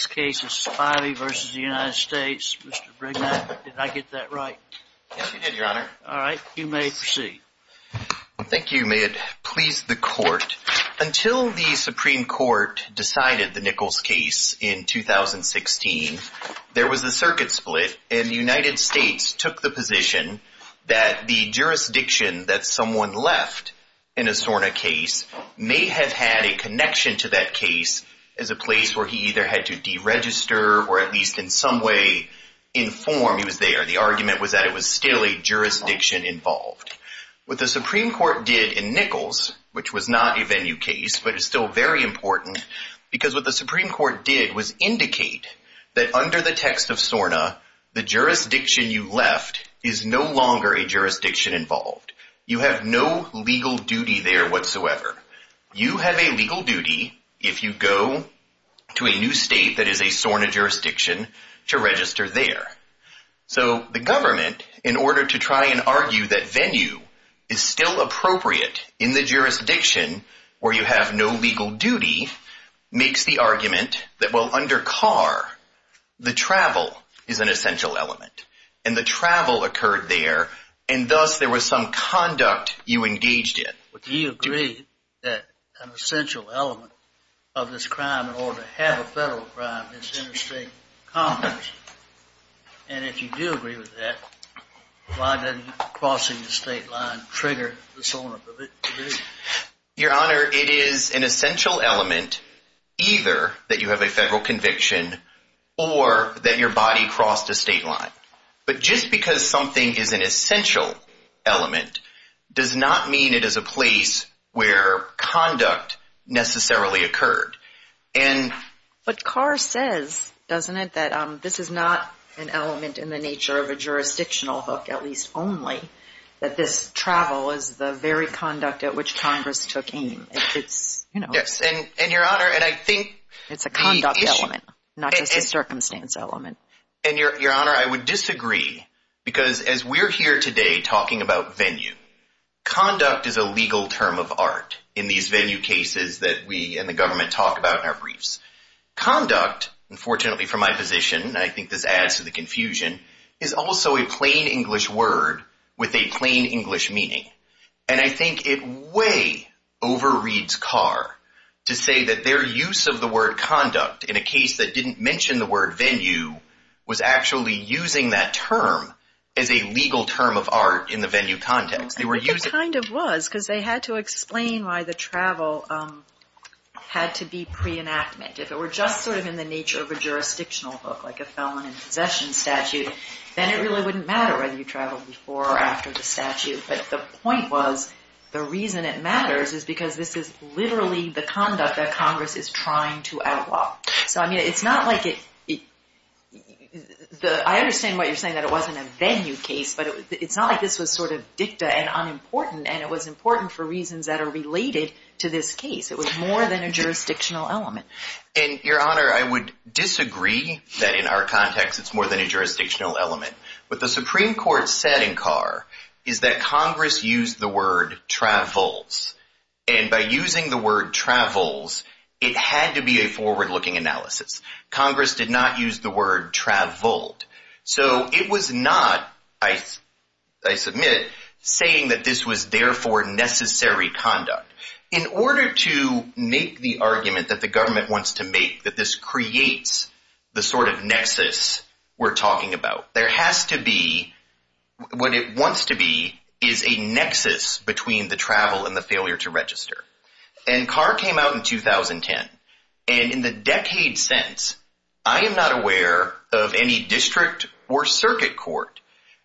This case is Spivey v. The United States, Mr. Brignac. Did I get that right? Yes, you did, Your Honor. All right. You may proceed. Thank you. May it please the Court, until the Supreme Court decided the Nichols case in 2016, there was a circuit split, and the United States took the position that the jurisdiction that someone left in a SORNA case may have had a connection to that case as a place where he either had to deregister or at least in some way inform he was there. The argument was that it was still a jurisdiction involved. What the Supreme Court did in Nichols, which was not a venue case but is still very important, because what the Supreme Court did was indicate that under the text of SORNA, the jurisdiction you left is no longer a jurisdiction involved. You have no legal duty there whatsoever. You have a legal duty if you go to a new state that is a SORNA jurisdiction to register there. So the government, in order to try and argue that venue is still appropriate in the jurisdiction where you have no legal duty, makes the argument that, well, under car, the travel is an essential element. And the travel occurred there, and thus there was some conduct you engaged in. Do you agree that an essential element of this crime, or to have a federal crime, is interstate commerce? And if you do agree with that, why doesn't crossing the state line trigger the SORNA division? Your Honor, it is an essential element either that you have a federal conviction or that your body crossed a state line. But just because something is an essential element does not mean it is a place where conduct necessarily occurred. But car says, doesn't it, that this is not an element in the nature of a jurisdictional hook, at least only, that this travel is the very conduct at which Congress took aim. Yes, and Your Honor, and I think... It's a conduct element, not just a circumstance element. And, Your Honor, I would disagree, because as we're here today talking about venue, conduct is a legal term of art in these venue cases that we and the government talk about in our briefs. Conduct, unfortunately from my position, and I think this adds to the confusion, is also a plain English word with a plain English meaning. And I think it way overreads car to say that their use of the word conduct in a case that didn't mention the word venue was actually using that term as a legal term of art in the venue context. They were using... I think it kind of was, because they had to explain why the travel had to be pre-enactment. If it were just sort of in the nature of a jurisdictional hook, like a felon in possession statute, then it really wouldn't matter whether you traveled before or after the statute. But the point was, the reason it matters is because this is literally the conduct that Congress is trying to outlaw. So I mean, it's not like it... I understand what you're saying, that it wasn't a venue case, but it's not like this was sort of dicta and unimportant, and it was important for reasons that are related to this case. It was more than a jurisdictional element. And Your Honor, I would disagree that in our context, it's more than a jurisdictional element. What the Supreme Court said in Carr is that Congress used the word travels, and by using the word travels, it had to be a forward-looking analysis. Congress did not use the word traveled. So it was not, I submit, saying that this was therefore necessary conduct. In order to make the argument that the government wants to make, that this creates the sort of nexus we're talking about, there has to be... What it wants to be is a nexus between the travel and the failure to register. And Carr came out in 2010, and in the decade since, I am not aware of any district or circuit court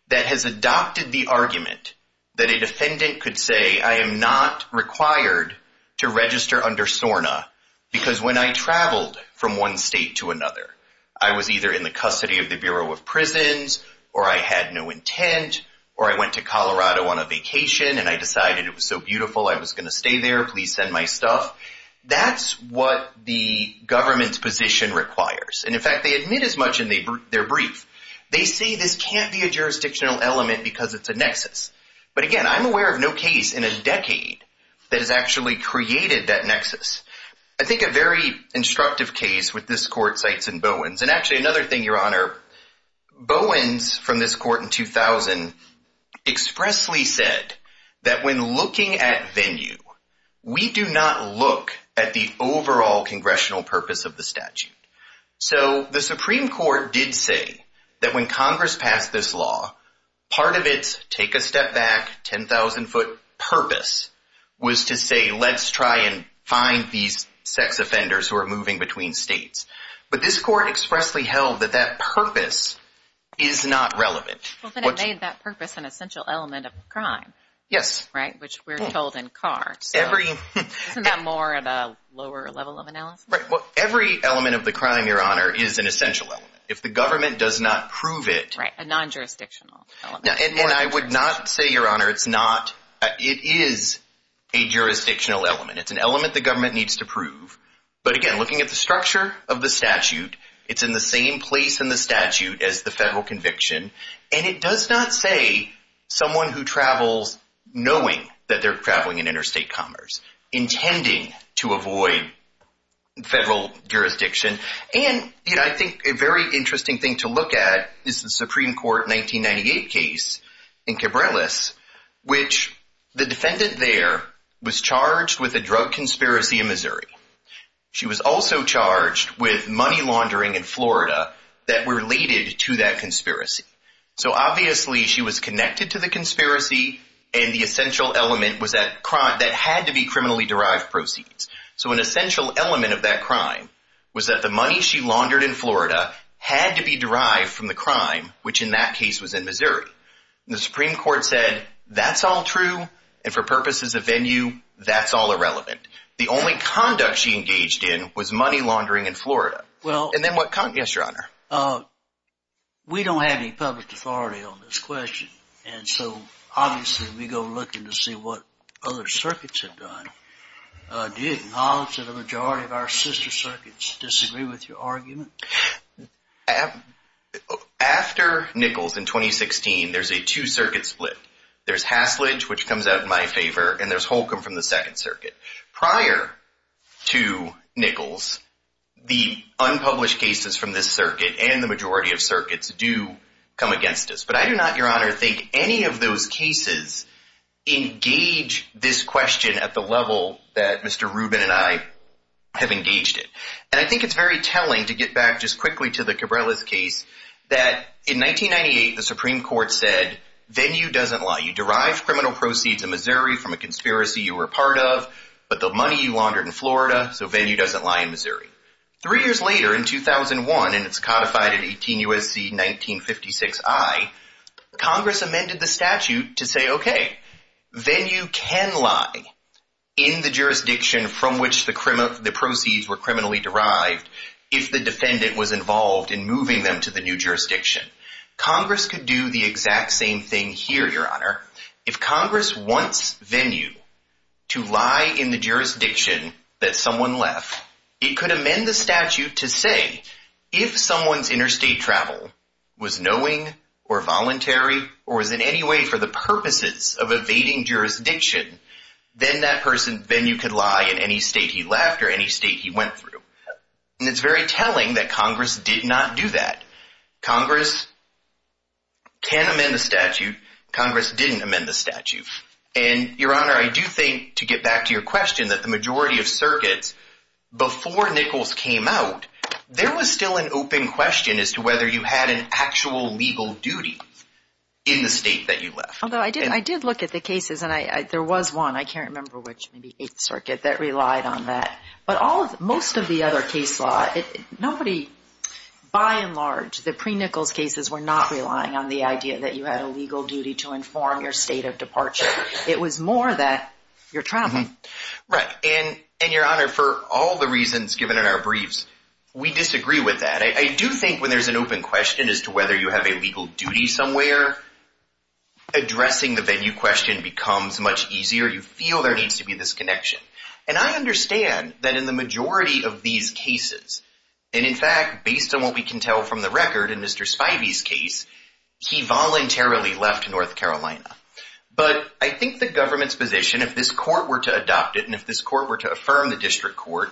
that has adopted the argument that a defendant could say, I am not required to register under SORNA, because when I traveled from one state to another, I was either in or I went to Colorado on a vacation, and I decided it was so beautiful, I was going to stay there, please send my stuff. That's what the government's position requires, and in fact, they admit as much in their brief. They say this can't be a jurisdictional element because it's a nexus. But again, I'm aware of no case in a decade that has actually created that nexus. I think a very instructive case with this court cites in Bowens, and actually another thing, your honor, Bowens, from this court in 2000, expressly said that when looking at venue, we do not look at the overall congressional purpose of the statute. So the Supreme Court did say that when Congress passed this law, part of its take a step back, 10,000 foot purpose was to say, let's try and find these sex offenders who are moving between states. But this court expressly held that that purpose is not relevant. Well, then it made that purpose an essential element of the crime. Yes. Right? Which we're told in Carr. Isn't that more of a lower level of analysis? Every element of the crime, your honor, is an essential element. If the government does not prove it- Right, a non-jurisdictional element. And I would not say, your honor, it is a jurisdictional element. It's an element the government needs to prove. But again, looking at the structure of the statute, it's in the same place in the statute as the federal conviction, and it does not say someone who travels knowing that they're traveling in interstate commerce, intending to avoid federal jurisdiction. And I think a very interesting thing to look at is the Supreme Court 1998 case in Cabrillas, which the defendant there was charged with a drug conspiracy in Missouri. She was also charged with money laundering in Florida that were related to that conspiracy. So obviously, she was connected to the conspiracy, and the essential element was that that had to be criminally derived proceeds. So an essential element of that crime was that the money she laundered in Florida had to be derived from the crime, which in that case was in Missouri. The Supreme Court said, that's all true, and for purposes of venue, that's all irrelevant. The only conduct she engaged in was money laundering in Florida. And then what, yes, your honor? We don't have any public authority on this question. And so obviously, we go looking to see what other circuits have done. Do you acknowledge that a majority of our sister circuits disagree with your argument? After Nichols in 2016, there's a two-circuit split. There's Hasledge, which comes out in my favor, and there's Holcomb from the Second Circuit. Prior to Nichols, the unpublished cases from this circuit and the majority of circuits do come against us. But I do not, your honor, think any of those cases engage this question at the level that Mr. Rubin and I have engaged in. And I think it's very telling, to get back just quickly to the Cabrillas case, that in 1998, the Supreme Court said, venue doesn't lie. You derived criminal proceeds in Missouri from a conspiracy you were a part of, but the money you laundered in Florida, so venue doesn't lie in Missouri. Three years later, in 2001, and it's codified at 18 U.S.C. 1956 I, Congress amended the statute to say, okay, venue can lie in the jurisdiction from which the proceeds were criminally derived if the defendant was involved in moving them to the new jurisdiction. Congress could do the exact same thing here, your honor. If Congress wants venue to lie in the jurisdiction that someone left, it could amend the statute to say, if someone's interstate travel was knowing or voluntary or is in any way for the purposes of evading jurisdiction, then that person, venue could lie in any state he left or any state he went through. And it's very telling that Congress did not do that. Congress can amend the statute. Congress didn't amend the statute. And your honor, I do think, to get back to your question, that the majority of circuits, before Nichols came out, there was still an open question as to whether you had an actual legal duty in the state that you left. Although I did look at the cases, and there was one, I can't remember which, maybe 8th Circuit, that relied on that. But most of the other case law, nobody, by and large, the pre-Nichols cases were not relying on the idea that you had a legal duty to inform your state of departure. It was more that you're traveling. Right. And your honor, for all the reasons given in our briefs, we disagree with that. I do think when there's an open question as to whether you have a legal duty somewhere, addressing the venue question becomes much easier. You feel there needs to be this connection. And I understand that in the majority of these cases, and in fact, based on what we can tell from the record in Mr. Spivey's case, he voluntarily left North Carolina. But I think the government's position, if this court were to adopt it, and if this court were to affirm the district court,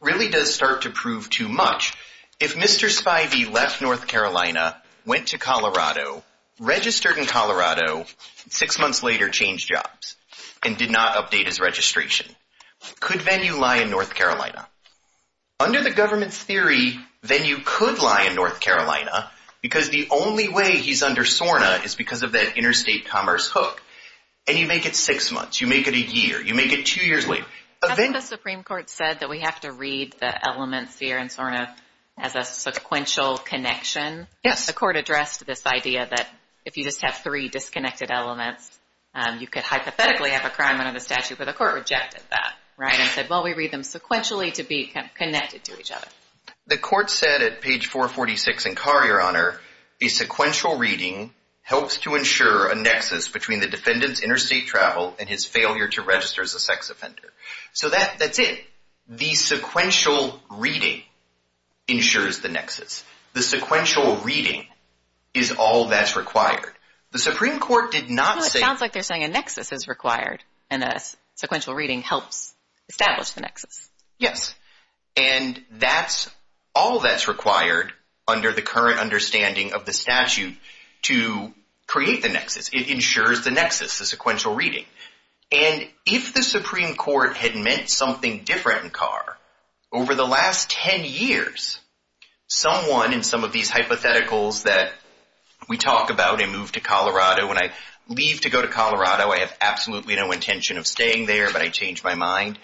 really does start to prove too much. If Mr. Spivey left North Carolina, went to Colorado, registered in Colorado, six months later changed jobs, and did not update his registration, could venue lie in North Carolina? Under the government's theory, venue could lie in North Carolina because the only way he's under SORNA is because of that interstate commerce hook. And you make it six months. You make it a year. You make it two years later. The Supreme Court said that we have to read the elements here in SORNA as a sequential connection. The court addressed this idea that if you just have three disconnected elements, you could hypothetically have a crime under the statute. But the court rejected that, right, and said, well, we read them sequentially to be connected to each other. The court said at page 446 in Carr, Your Honor, a sequential reading helps to ensure a nexus between the defendant's interstate travel and his failure to register as a sex offender. So that's it. The sequential reading ensures the nexus. The sequential reading is all that's required. The Supreme Court did not say. No, it sounds like they're saying a nexus is required, and a sequential reading helps establish the nexus. Yes. And that's all that's required under the current understanding of the statute to create the nexus. It ensures the nexus, the sequential reading. And if the Supreme Court had meant something different in Carr, over the last 10 years, someone in some of these hypotheticals that we talk about, I move to Colorado, when I leave to go to Colorado, I have absolutely no intention of staying there, but I change my mind,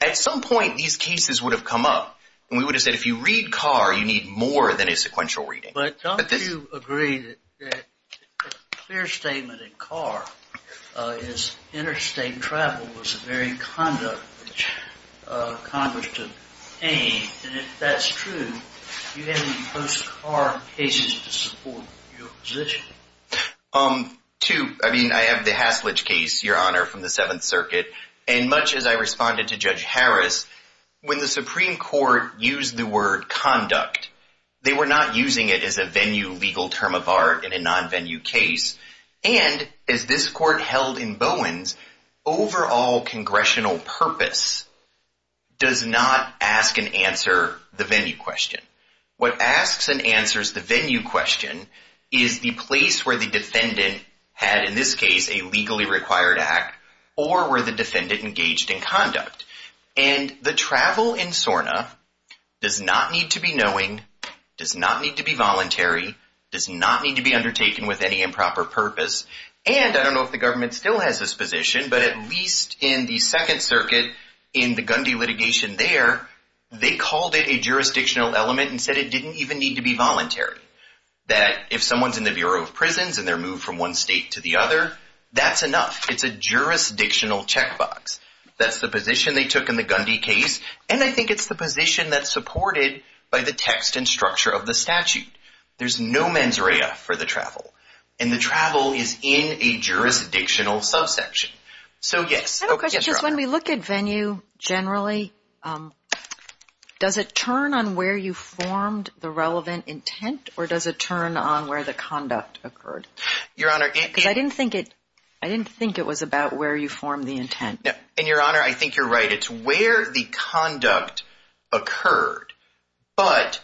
at some point, these cases would have come up. And we would have said, if you read Carr, you need more than a sequential reading. But don't you agree that a clear statement in Carr is interstate travel was a very conduct which Congress took aim, and if that's true, do you have any post-Carr cases to support your position? Two. I mean, I have the Haslitch case, Your Honor, from the Seventh Circuit, and much as I responded to Judge Harris, when the Supreme Court used the word conduct, they were not using it as a venue legal term of art in a non-venue case. And as this Court held in Bowens, overall congressional purpose does not ask and answer the venue question. What asks and answers the venue question is the place where the defendant had, in this case, a legally required act, or were the defendant engaged in conduct. And the travel in SORNA does not need to be knowing, does not need to be voluntary, does not need to be undertaken with any improper purpose, and I don't know if the government still has this position, but at least in the Second Circuit, in the Gundy litigation there, they called it a jurisdictional element and said it didn't even need to be voluntary. That if someone's in the Bureau of Prisons and they're moved from one state to the other, that's enough, it's a jurisdictional checkbox. That's the position they took in the Gundy case, and I think it's the position that's supported by the text and structure of the statute. There's no mens rea for the travel, and the travel is in a jurisdictional subsection. So, yes. I have a question. Just when we look at venue, generally, does it turn on where you formed the relevant intent, or does it turn on where the conduct occurred? Your Honor, it. Because I didn't think it, I didn't think it was about where you formed the intent. And, Your Honor, I think you're right. It's where the conduct occurred, but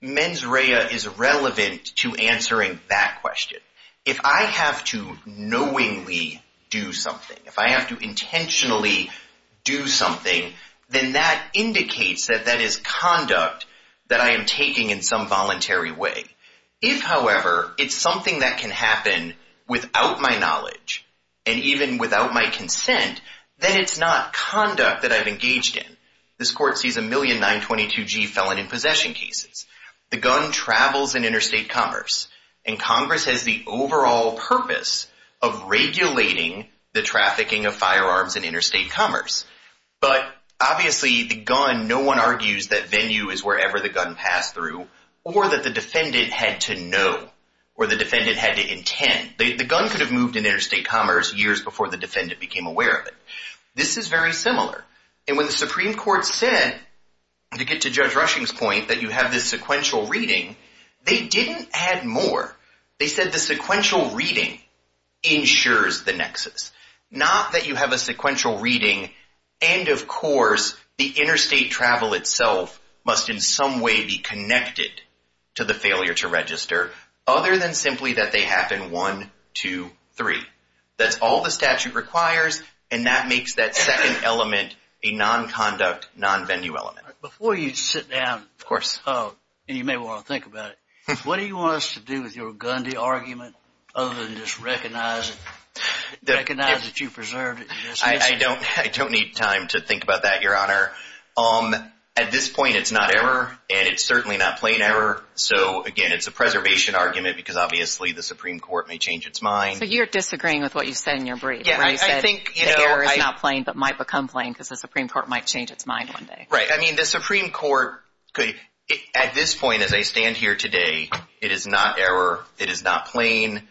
mens rea is relevant to answering that question. If I have to knowingly do something, if I have to intentionally do something, then that indicates that that is conduct that I am taking in some voluntary way. If, however, it's something that can happen without my knowledge and even without my consent, then it's not conduct that I've engaged in. This court sees a million 922G felon in possession cases. The gun travels in interstate commerce, and Congress has the overall purpose of regulating the trafficking of firearms in interstate commerce. But, obviously, the gun, no one argues that venue is wherever the gun passed through, or that the defendant had to know, or the defendant had to intend. The gun could have moved in interstate commerce years before the defendant became aware of it. This is very similar. And when the Supreme Court said, to get to Judge Rushing's point, that you have this sequential reading, they didn't add more. They said the sequential reading ensures the nexus. Not that you have a sequential reading, and, of course, the interstate travel itself must in some way be connected to the failure to register, other than simply that they happen one, two, three. That's all the statute requires, and that makes that second element a non-conduct, non-venue element. Before you sit down, and you may want to think about it, what do you want us to do with your Gundy argument other than just recognize that you preserved it? I don't need time to think about that, Your Honor. At this point, it's not error, and it's certainly not plain error. So, again, it's a preservation argument because, obviously, the Supreme Court may change its mind. So you're disagreeing with what you said in your brief, where you said that error is not plain but might become plain because the Supreme Court might change its mind one day. Right. I mean, the Supreme Court could, at this point, as I stand here today, it is not error. It is not plain.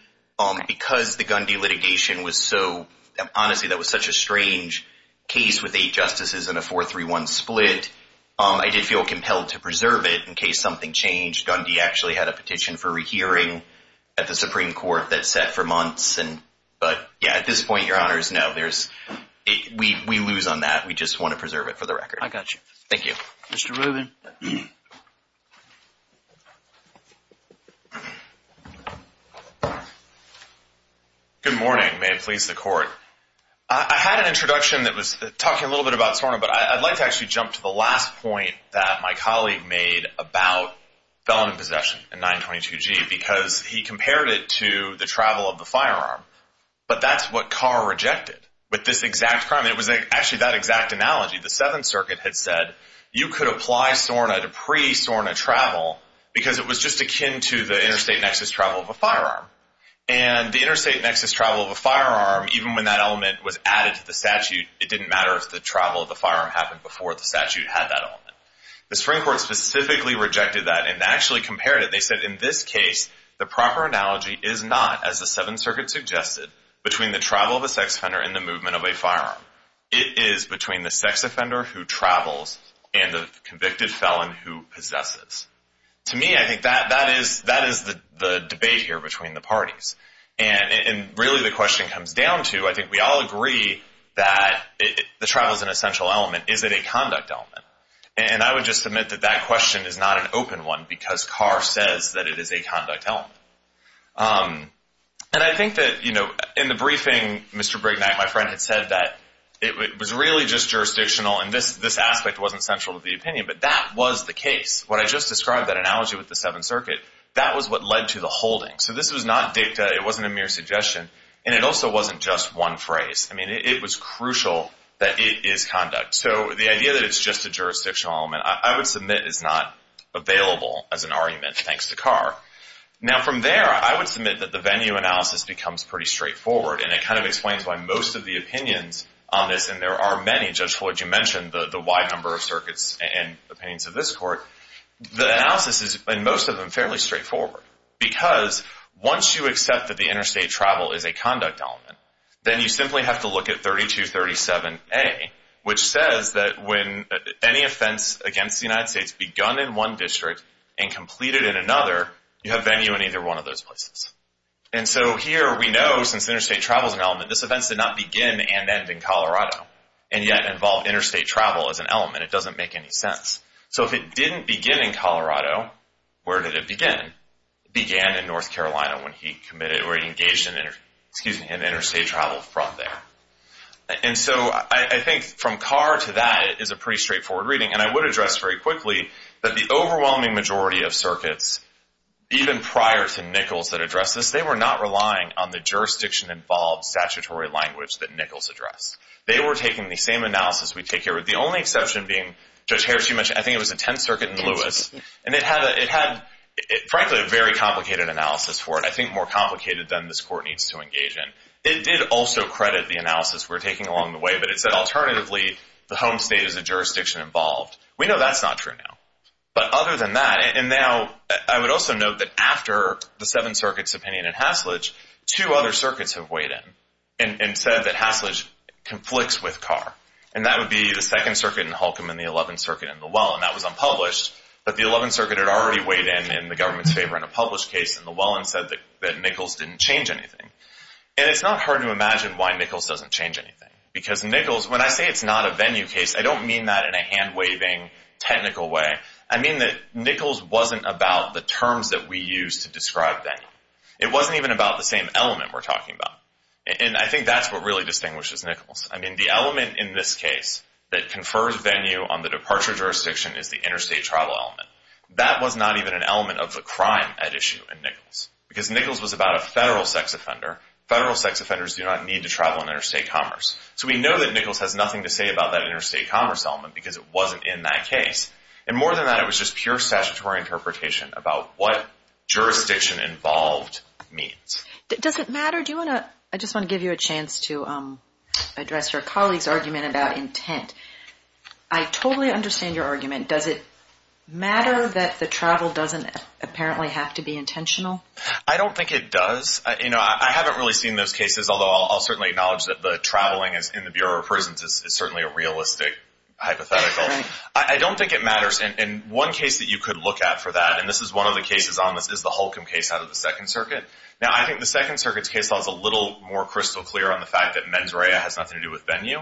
Because the Gundy litigation was so, honestly, that was such a strange case with eight justices and a 4-3-1 split, I did feel compelled to preserve it in case something changed. Gundy actually had a petition for rehearing at the Supreme Court that sat for months. But, yeah, at this point, Your Honors, no, we lose on that. We just want to preserve it for the record. I got you. Thank you. Good morning. May it please the Court. I had an introduction that was talking a little bit about SORNA, but I'd like to actually jump to the last point that my colleague made about felon in possession in 922G because he compared it to the travel of the firearm. But that's what Carr rejected with this exact crime. It was actually that exact analogy. The Seventh Circuit had said you could apply SORNA to pre-SORNA travel because it was just akin to the interstate nexus travel of a firearm. And the interstate nexus travel of a firearm, even when that element was added to the statute, it didn't matter if the travel of the firearm happened before the statute had that element. The Supreme Court specifically rejected that and actually compared it. They said, in this case, the proper analogy is not, as the Seventh Circuit suggested, between the travel of a sex offender and the movement of a firearm. It is between the sex offender who travels and the convicted felon who possesses. To me, I think that is the debate here between the parties. And really the question comes down to, I think we all agree that the travel is an essential element. Is it a conduct element? And I would just submit that that question is not an open one because Carr says that it is a conduct element. And I think that, you know, in the briefing, Mr. Brignac, my friend, had said that it was really just jurisdictional and this aspect wasn't central to the opinion. But that was the case. What I just described, that analogy with the Seventh Circuit, that was what led to the holding. So this was not dicta. It wasn't a mere suggestion. And it also wasn't just one phrase. I mean, it was crucial that it is conduct. So the idea that it's just a jurisdictional element, I would submit is not available as an argument, thanks to Carr. Now, from there, I would submit that the venue analysis becomes pretty straightforward. And it kind of explains why most of the opinions on this, and there are many, Judge Floyd, you mentioned the wide number of circuits and opinions of this court, the analysis is, in most of them, fairly straightforward. Because once you accept that the interstate travel is a conduct element, then you simply have to look at 3237A, which says that when any offense against the United States begun in one district and completed in another, you have venue in either one of those places. And so here we know, since interstate travel is an element, this offense did not begin and end in Colorado and yet involve interstate travel as an element. It doesn't make any sense. So if it didn't begin in Colorado, where did it begin? It began in North Carolina when he engaged in interstate travel from there. And so I think from Carr to that, it is a pretty straightforward reading. And I would address very quickly that the overwhelming majority of circuits, even prior to Nichols that addressed this, they were not relying on the jurisdiction-involved statutory language that Nichols addressed. They were taking the same analysis we take here, the only exception being, Judge Harris, you mentioned, I think it was the Tenth Circuit in Lewis. And it had, frankly, a very complicated analysis for it, I think more complicated than this Court needs to engage in. It did also credit the analysis we're taking along the way, but it said, alternatively, the home state is a jurisdiction-involved. We know that's not true now. But other than that, and now I would also note that after the Seventh Circuit's opinion in Hasledge, two other circuits have weighed in and said that Hasledge conflicts with Carr. And that would be the Second Circuit in Holcomb and the Eleventh Circuit in Llewellyn. That was unpublished. But the Eleventh Circuit had already weighed in in the government's favor in a published case in Llewellyn and said that Nichols didn't change anything. And it's not hard to imagine why Nichols doesn't change anything. Because Nichols, when I say it's not a venue case, I don't mean that in a hand-waving, technical way. I mean that Nichols wasn't about the terms that we use to describe venue. It wasn't even about the same element we're talking about. And I think that's what really distinguishes Nichols. The element in this case that confers venue on the departure jurisdiction is the interstate travel element. That was not even an element of the crime at issue in Nichols. Because Nichols was about a federal sex offender. Federal sex offenders do not need to travel in interstate commerce. So we know that Nichols has nothing to say about that interstate commerce element because it wasn't in that case. And more than that, it was just pure statutory interpretation about what jurisdiction involved means. Does it matter? I just want to give you a chance to address your colleague's argument about intent. I totally understand your argument. Does it matter that the travel doesn't apparently have to be intentional? I don't think it does. I haven't really seen those cases, although I'll certainly acknowledge that the traveling in the Bureau of Prisons is certainly a realistic hypothetical. I don't think it matters. And one case that you could look at for that, and this is one of the cases on this, is the Holcomb case out of the Second Circuit. Now, I think the Second Circuit's case law is a little more crystal clear on the fact that mens rea has nothing to do with venue.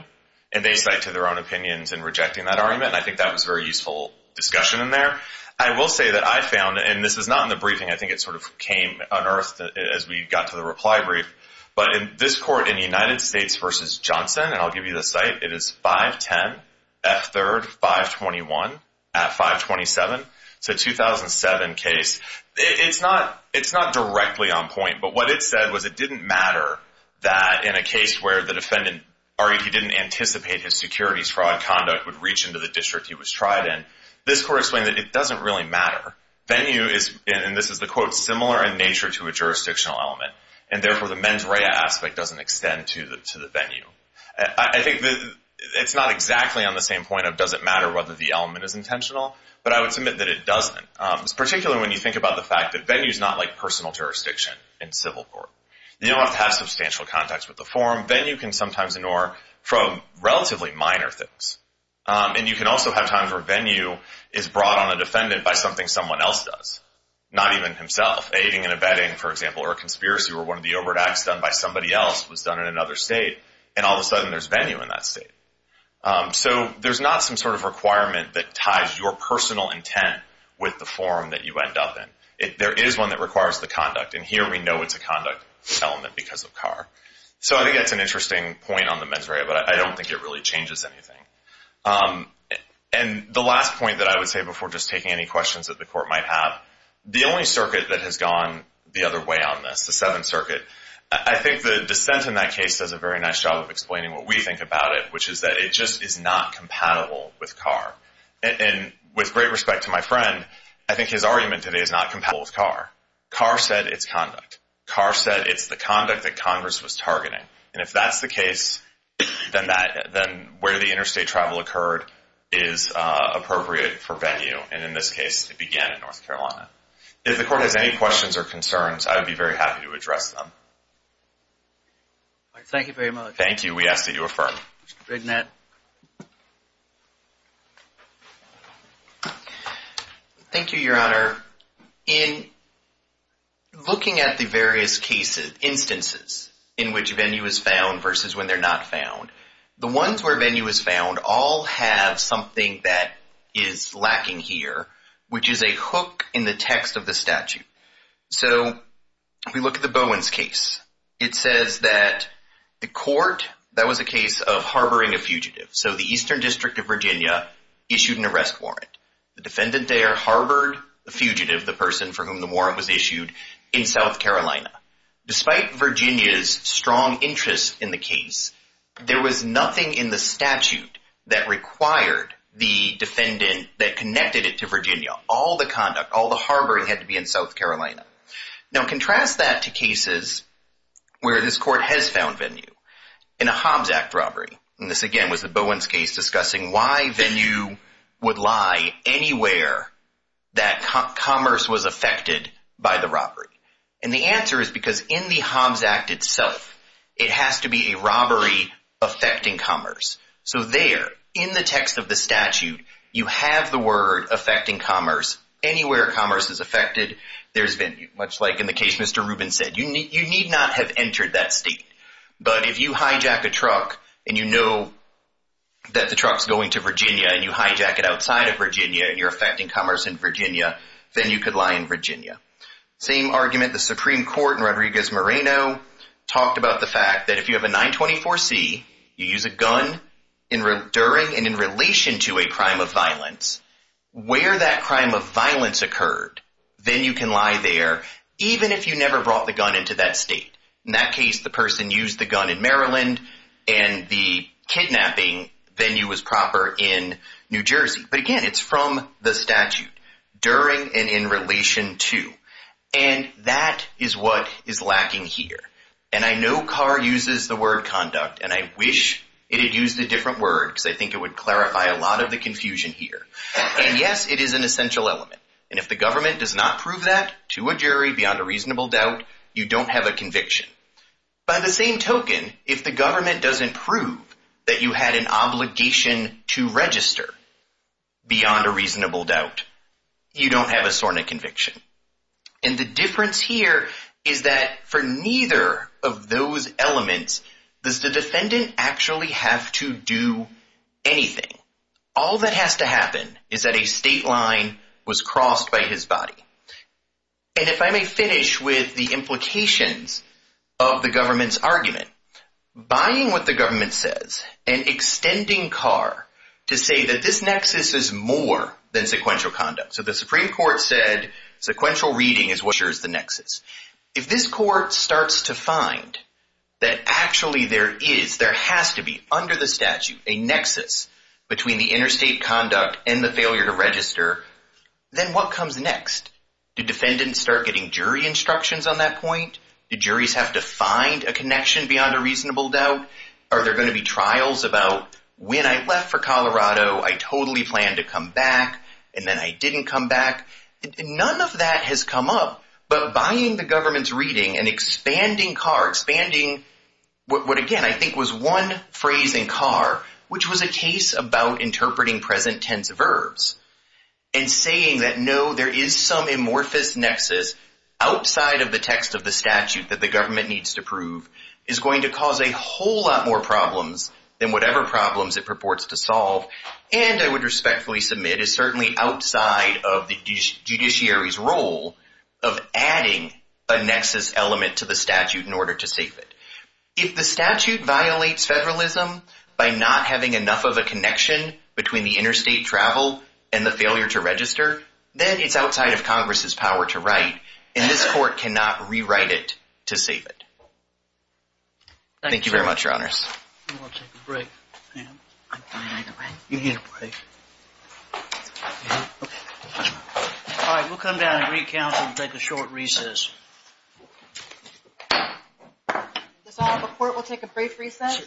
And they cite to their own opinions in rejecting that argument. And I think that was a very useful discussion in there. I will say that I found, and this is not in the briefing, I think it sort of came unearthed as we got to the reply brief, but in this court in the United States versus Johnson, and I'll give you the site, it is 510 F3rd 521 at 527. It's a 2007 case. It's not directly on point. But what it said was it didn't matter that in a case where the defendant argued he didn't anticipate his securities fraud conduct would reach into the district he was tried in. This court explained that it doesn't really matter. Venue is, and this is the quote, similar in nature to a jurisdictional element. And therefore, the mens rea aspect doesn't extend to the venue. I think it's not exactly on the same point of does it matter whether the element is intentional? But I would submit that it doesn't. Particularly when you think about the fact that venue is not like personal jurisdiction in civil court. You don't have to have substantial contacts with the forum. Venue can sometimes ignore from relatively minor things. And you can also have times where venue is brought on a defendant by something someone else does, not even himself. Aiding and abetting, for example, or a conspiracy or one of the overt acts done by somebody else was done in another state, and all of a sudden there's venue in that state. So there's not some sort of requirement that ties your personal intent with the forum that you end up in. There is one that requires the conduct, and here we know it's a conduct element because of Carr. So I think that's an interesting point on the mens rea, but I don't think it really changes anything. And the last point that I would say before just taking any questions that the court might have, the only circuit that has gone the other way on this, the Seventh Circuit, I think the dissent in that case does a very nice job of explaining what we think about it, which is that it just is not compatible with Carr. And with great respect to my friend, I think his argument today is not compatible with Carr. Carr said it's conduct. Carr said it's the conduct that Congress was targeting. And if that's the case, then where the interstate travel occurred is appropriate for venue. And in this case, it began in North Carolina. If the court has any questions or concerns, I would be very happy to address them. All right. Thank you very much. Thank you. We ask that you affirm. Mr. Brignette. Thank you, Your Honor. In looking at the various instances in which venue is found versus when they're not found, the ones where venue is found all have something that is lacking here, which is a hook in the text of the statute. it says that the court, that was a case of harboring a fugitive. So the Eastern District of Virginia issued an arrest warrant. The defendant there harbored the fugitive, the person for whom the warrant was issued, in South Carolina. Despite Virginia's strong interest in the case, there was nothing in the statute that required the defendant that connected it to Virginia. All the conduct, all the harboring had to be in South Carolina. Now, contrast that to cases where this court has found venue. In a Hobbs Act robbery, and this again was the Bowens case, discussing why venue would lie anywhere that commerce was affected by the robbery. And the answer is because in the Hobbs Act itself, it has to be a robbery affecting commerce. So there, in the text of the statute, you have the word affecting commerce. Anywhere commerce is affected, there's venue. Much like in the case Mr. Rubin said, you need not have entered that state. But if you hijack a truck, and you know that the truck's going to Virginia, and you hijack it outside of Virginia, and you're affecting commerce in Virginia, then you could lie in Virginia. Same argument, the Supreme Court in Rodriguez-Moreno talked about the fact that if you have a 924C, you use a gun during and in relation to a crime of violence, where that crime of violence occurred, then you can lie there, even if you never brought the gun into that state. In that case, the person used the gun in Maryland, and the kidnapping venue was proper in New Jersey. But again, it's from the statute, during and in relation to. And that is what is lacking here. And I know Carr uses the word conduct, and I wish it had used a different word, because I think it would clarify a lot of the confusion here. And yes, it is an essential element. And if the government does not prove that to a jury beyond a reasonable doubt, you don't have a conviction. By the same token, if the government doesn't prove that you had an obligation to register beyond a reasonable doubt, you don't have a SORNA conviction. And the difference here is that for neither of those elements, does the defendant actually have to do anything? All that has to happen is that a state line was crossed by his body. And if I may finish with the implications of the government's argument, buying what the government says, and extending Carr to say that this nexus is more than sequential conduct. So the Supreme Court said sequential reading is what shares the nexus. If this court starts to find that actually there is, there has to be under the statute, a nexus between the interstate conduct and the failure to register, then what comes next? Do defendants start getting jury instructions on that point? Do juries have to find a connection beyond a reasonable doubt? Are there going to be trials about when I left for Colorado, I totally planned to come back, and then I didn't come back. None of that has come up, but buying the government's reading and expanding Carr, expanding what again, I think was one phrase in Carr, which was a case about interpreting present tense verbs. And saying that, there is some amorphous nexus outside of the text of the statute that the government needs to prove is going to cause a whole lot more problems than whatever problems it purports to solve, and I would respectfully submit is certainly outside of the judiciary's role of adding a nexus element to the statute in order to save it. If the statute violates federalism by not having enough of a connection between the interstate travel and the failure to register, then it's outside of Congress's power to write, and this court cannot rewrite it to save it. Thank you very much, your honors. You want to take a break, Pam? I'm fine, I can write. You need a break. All right, we'll come down and recount and take a short recess. Does all of the court will take a brief recess?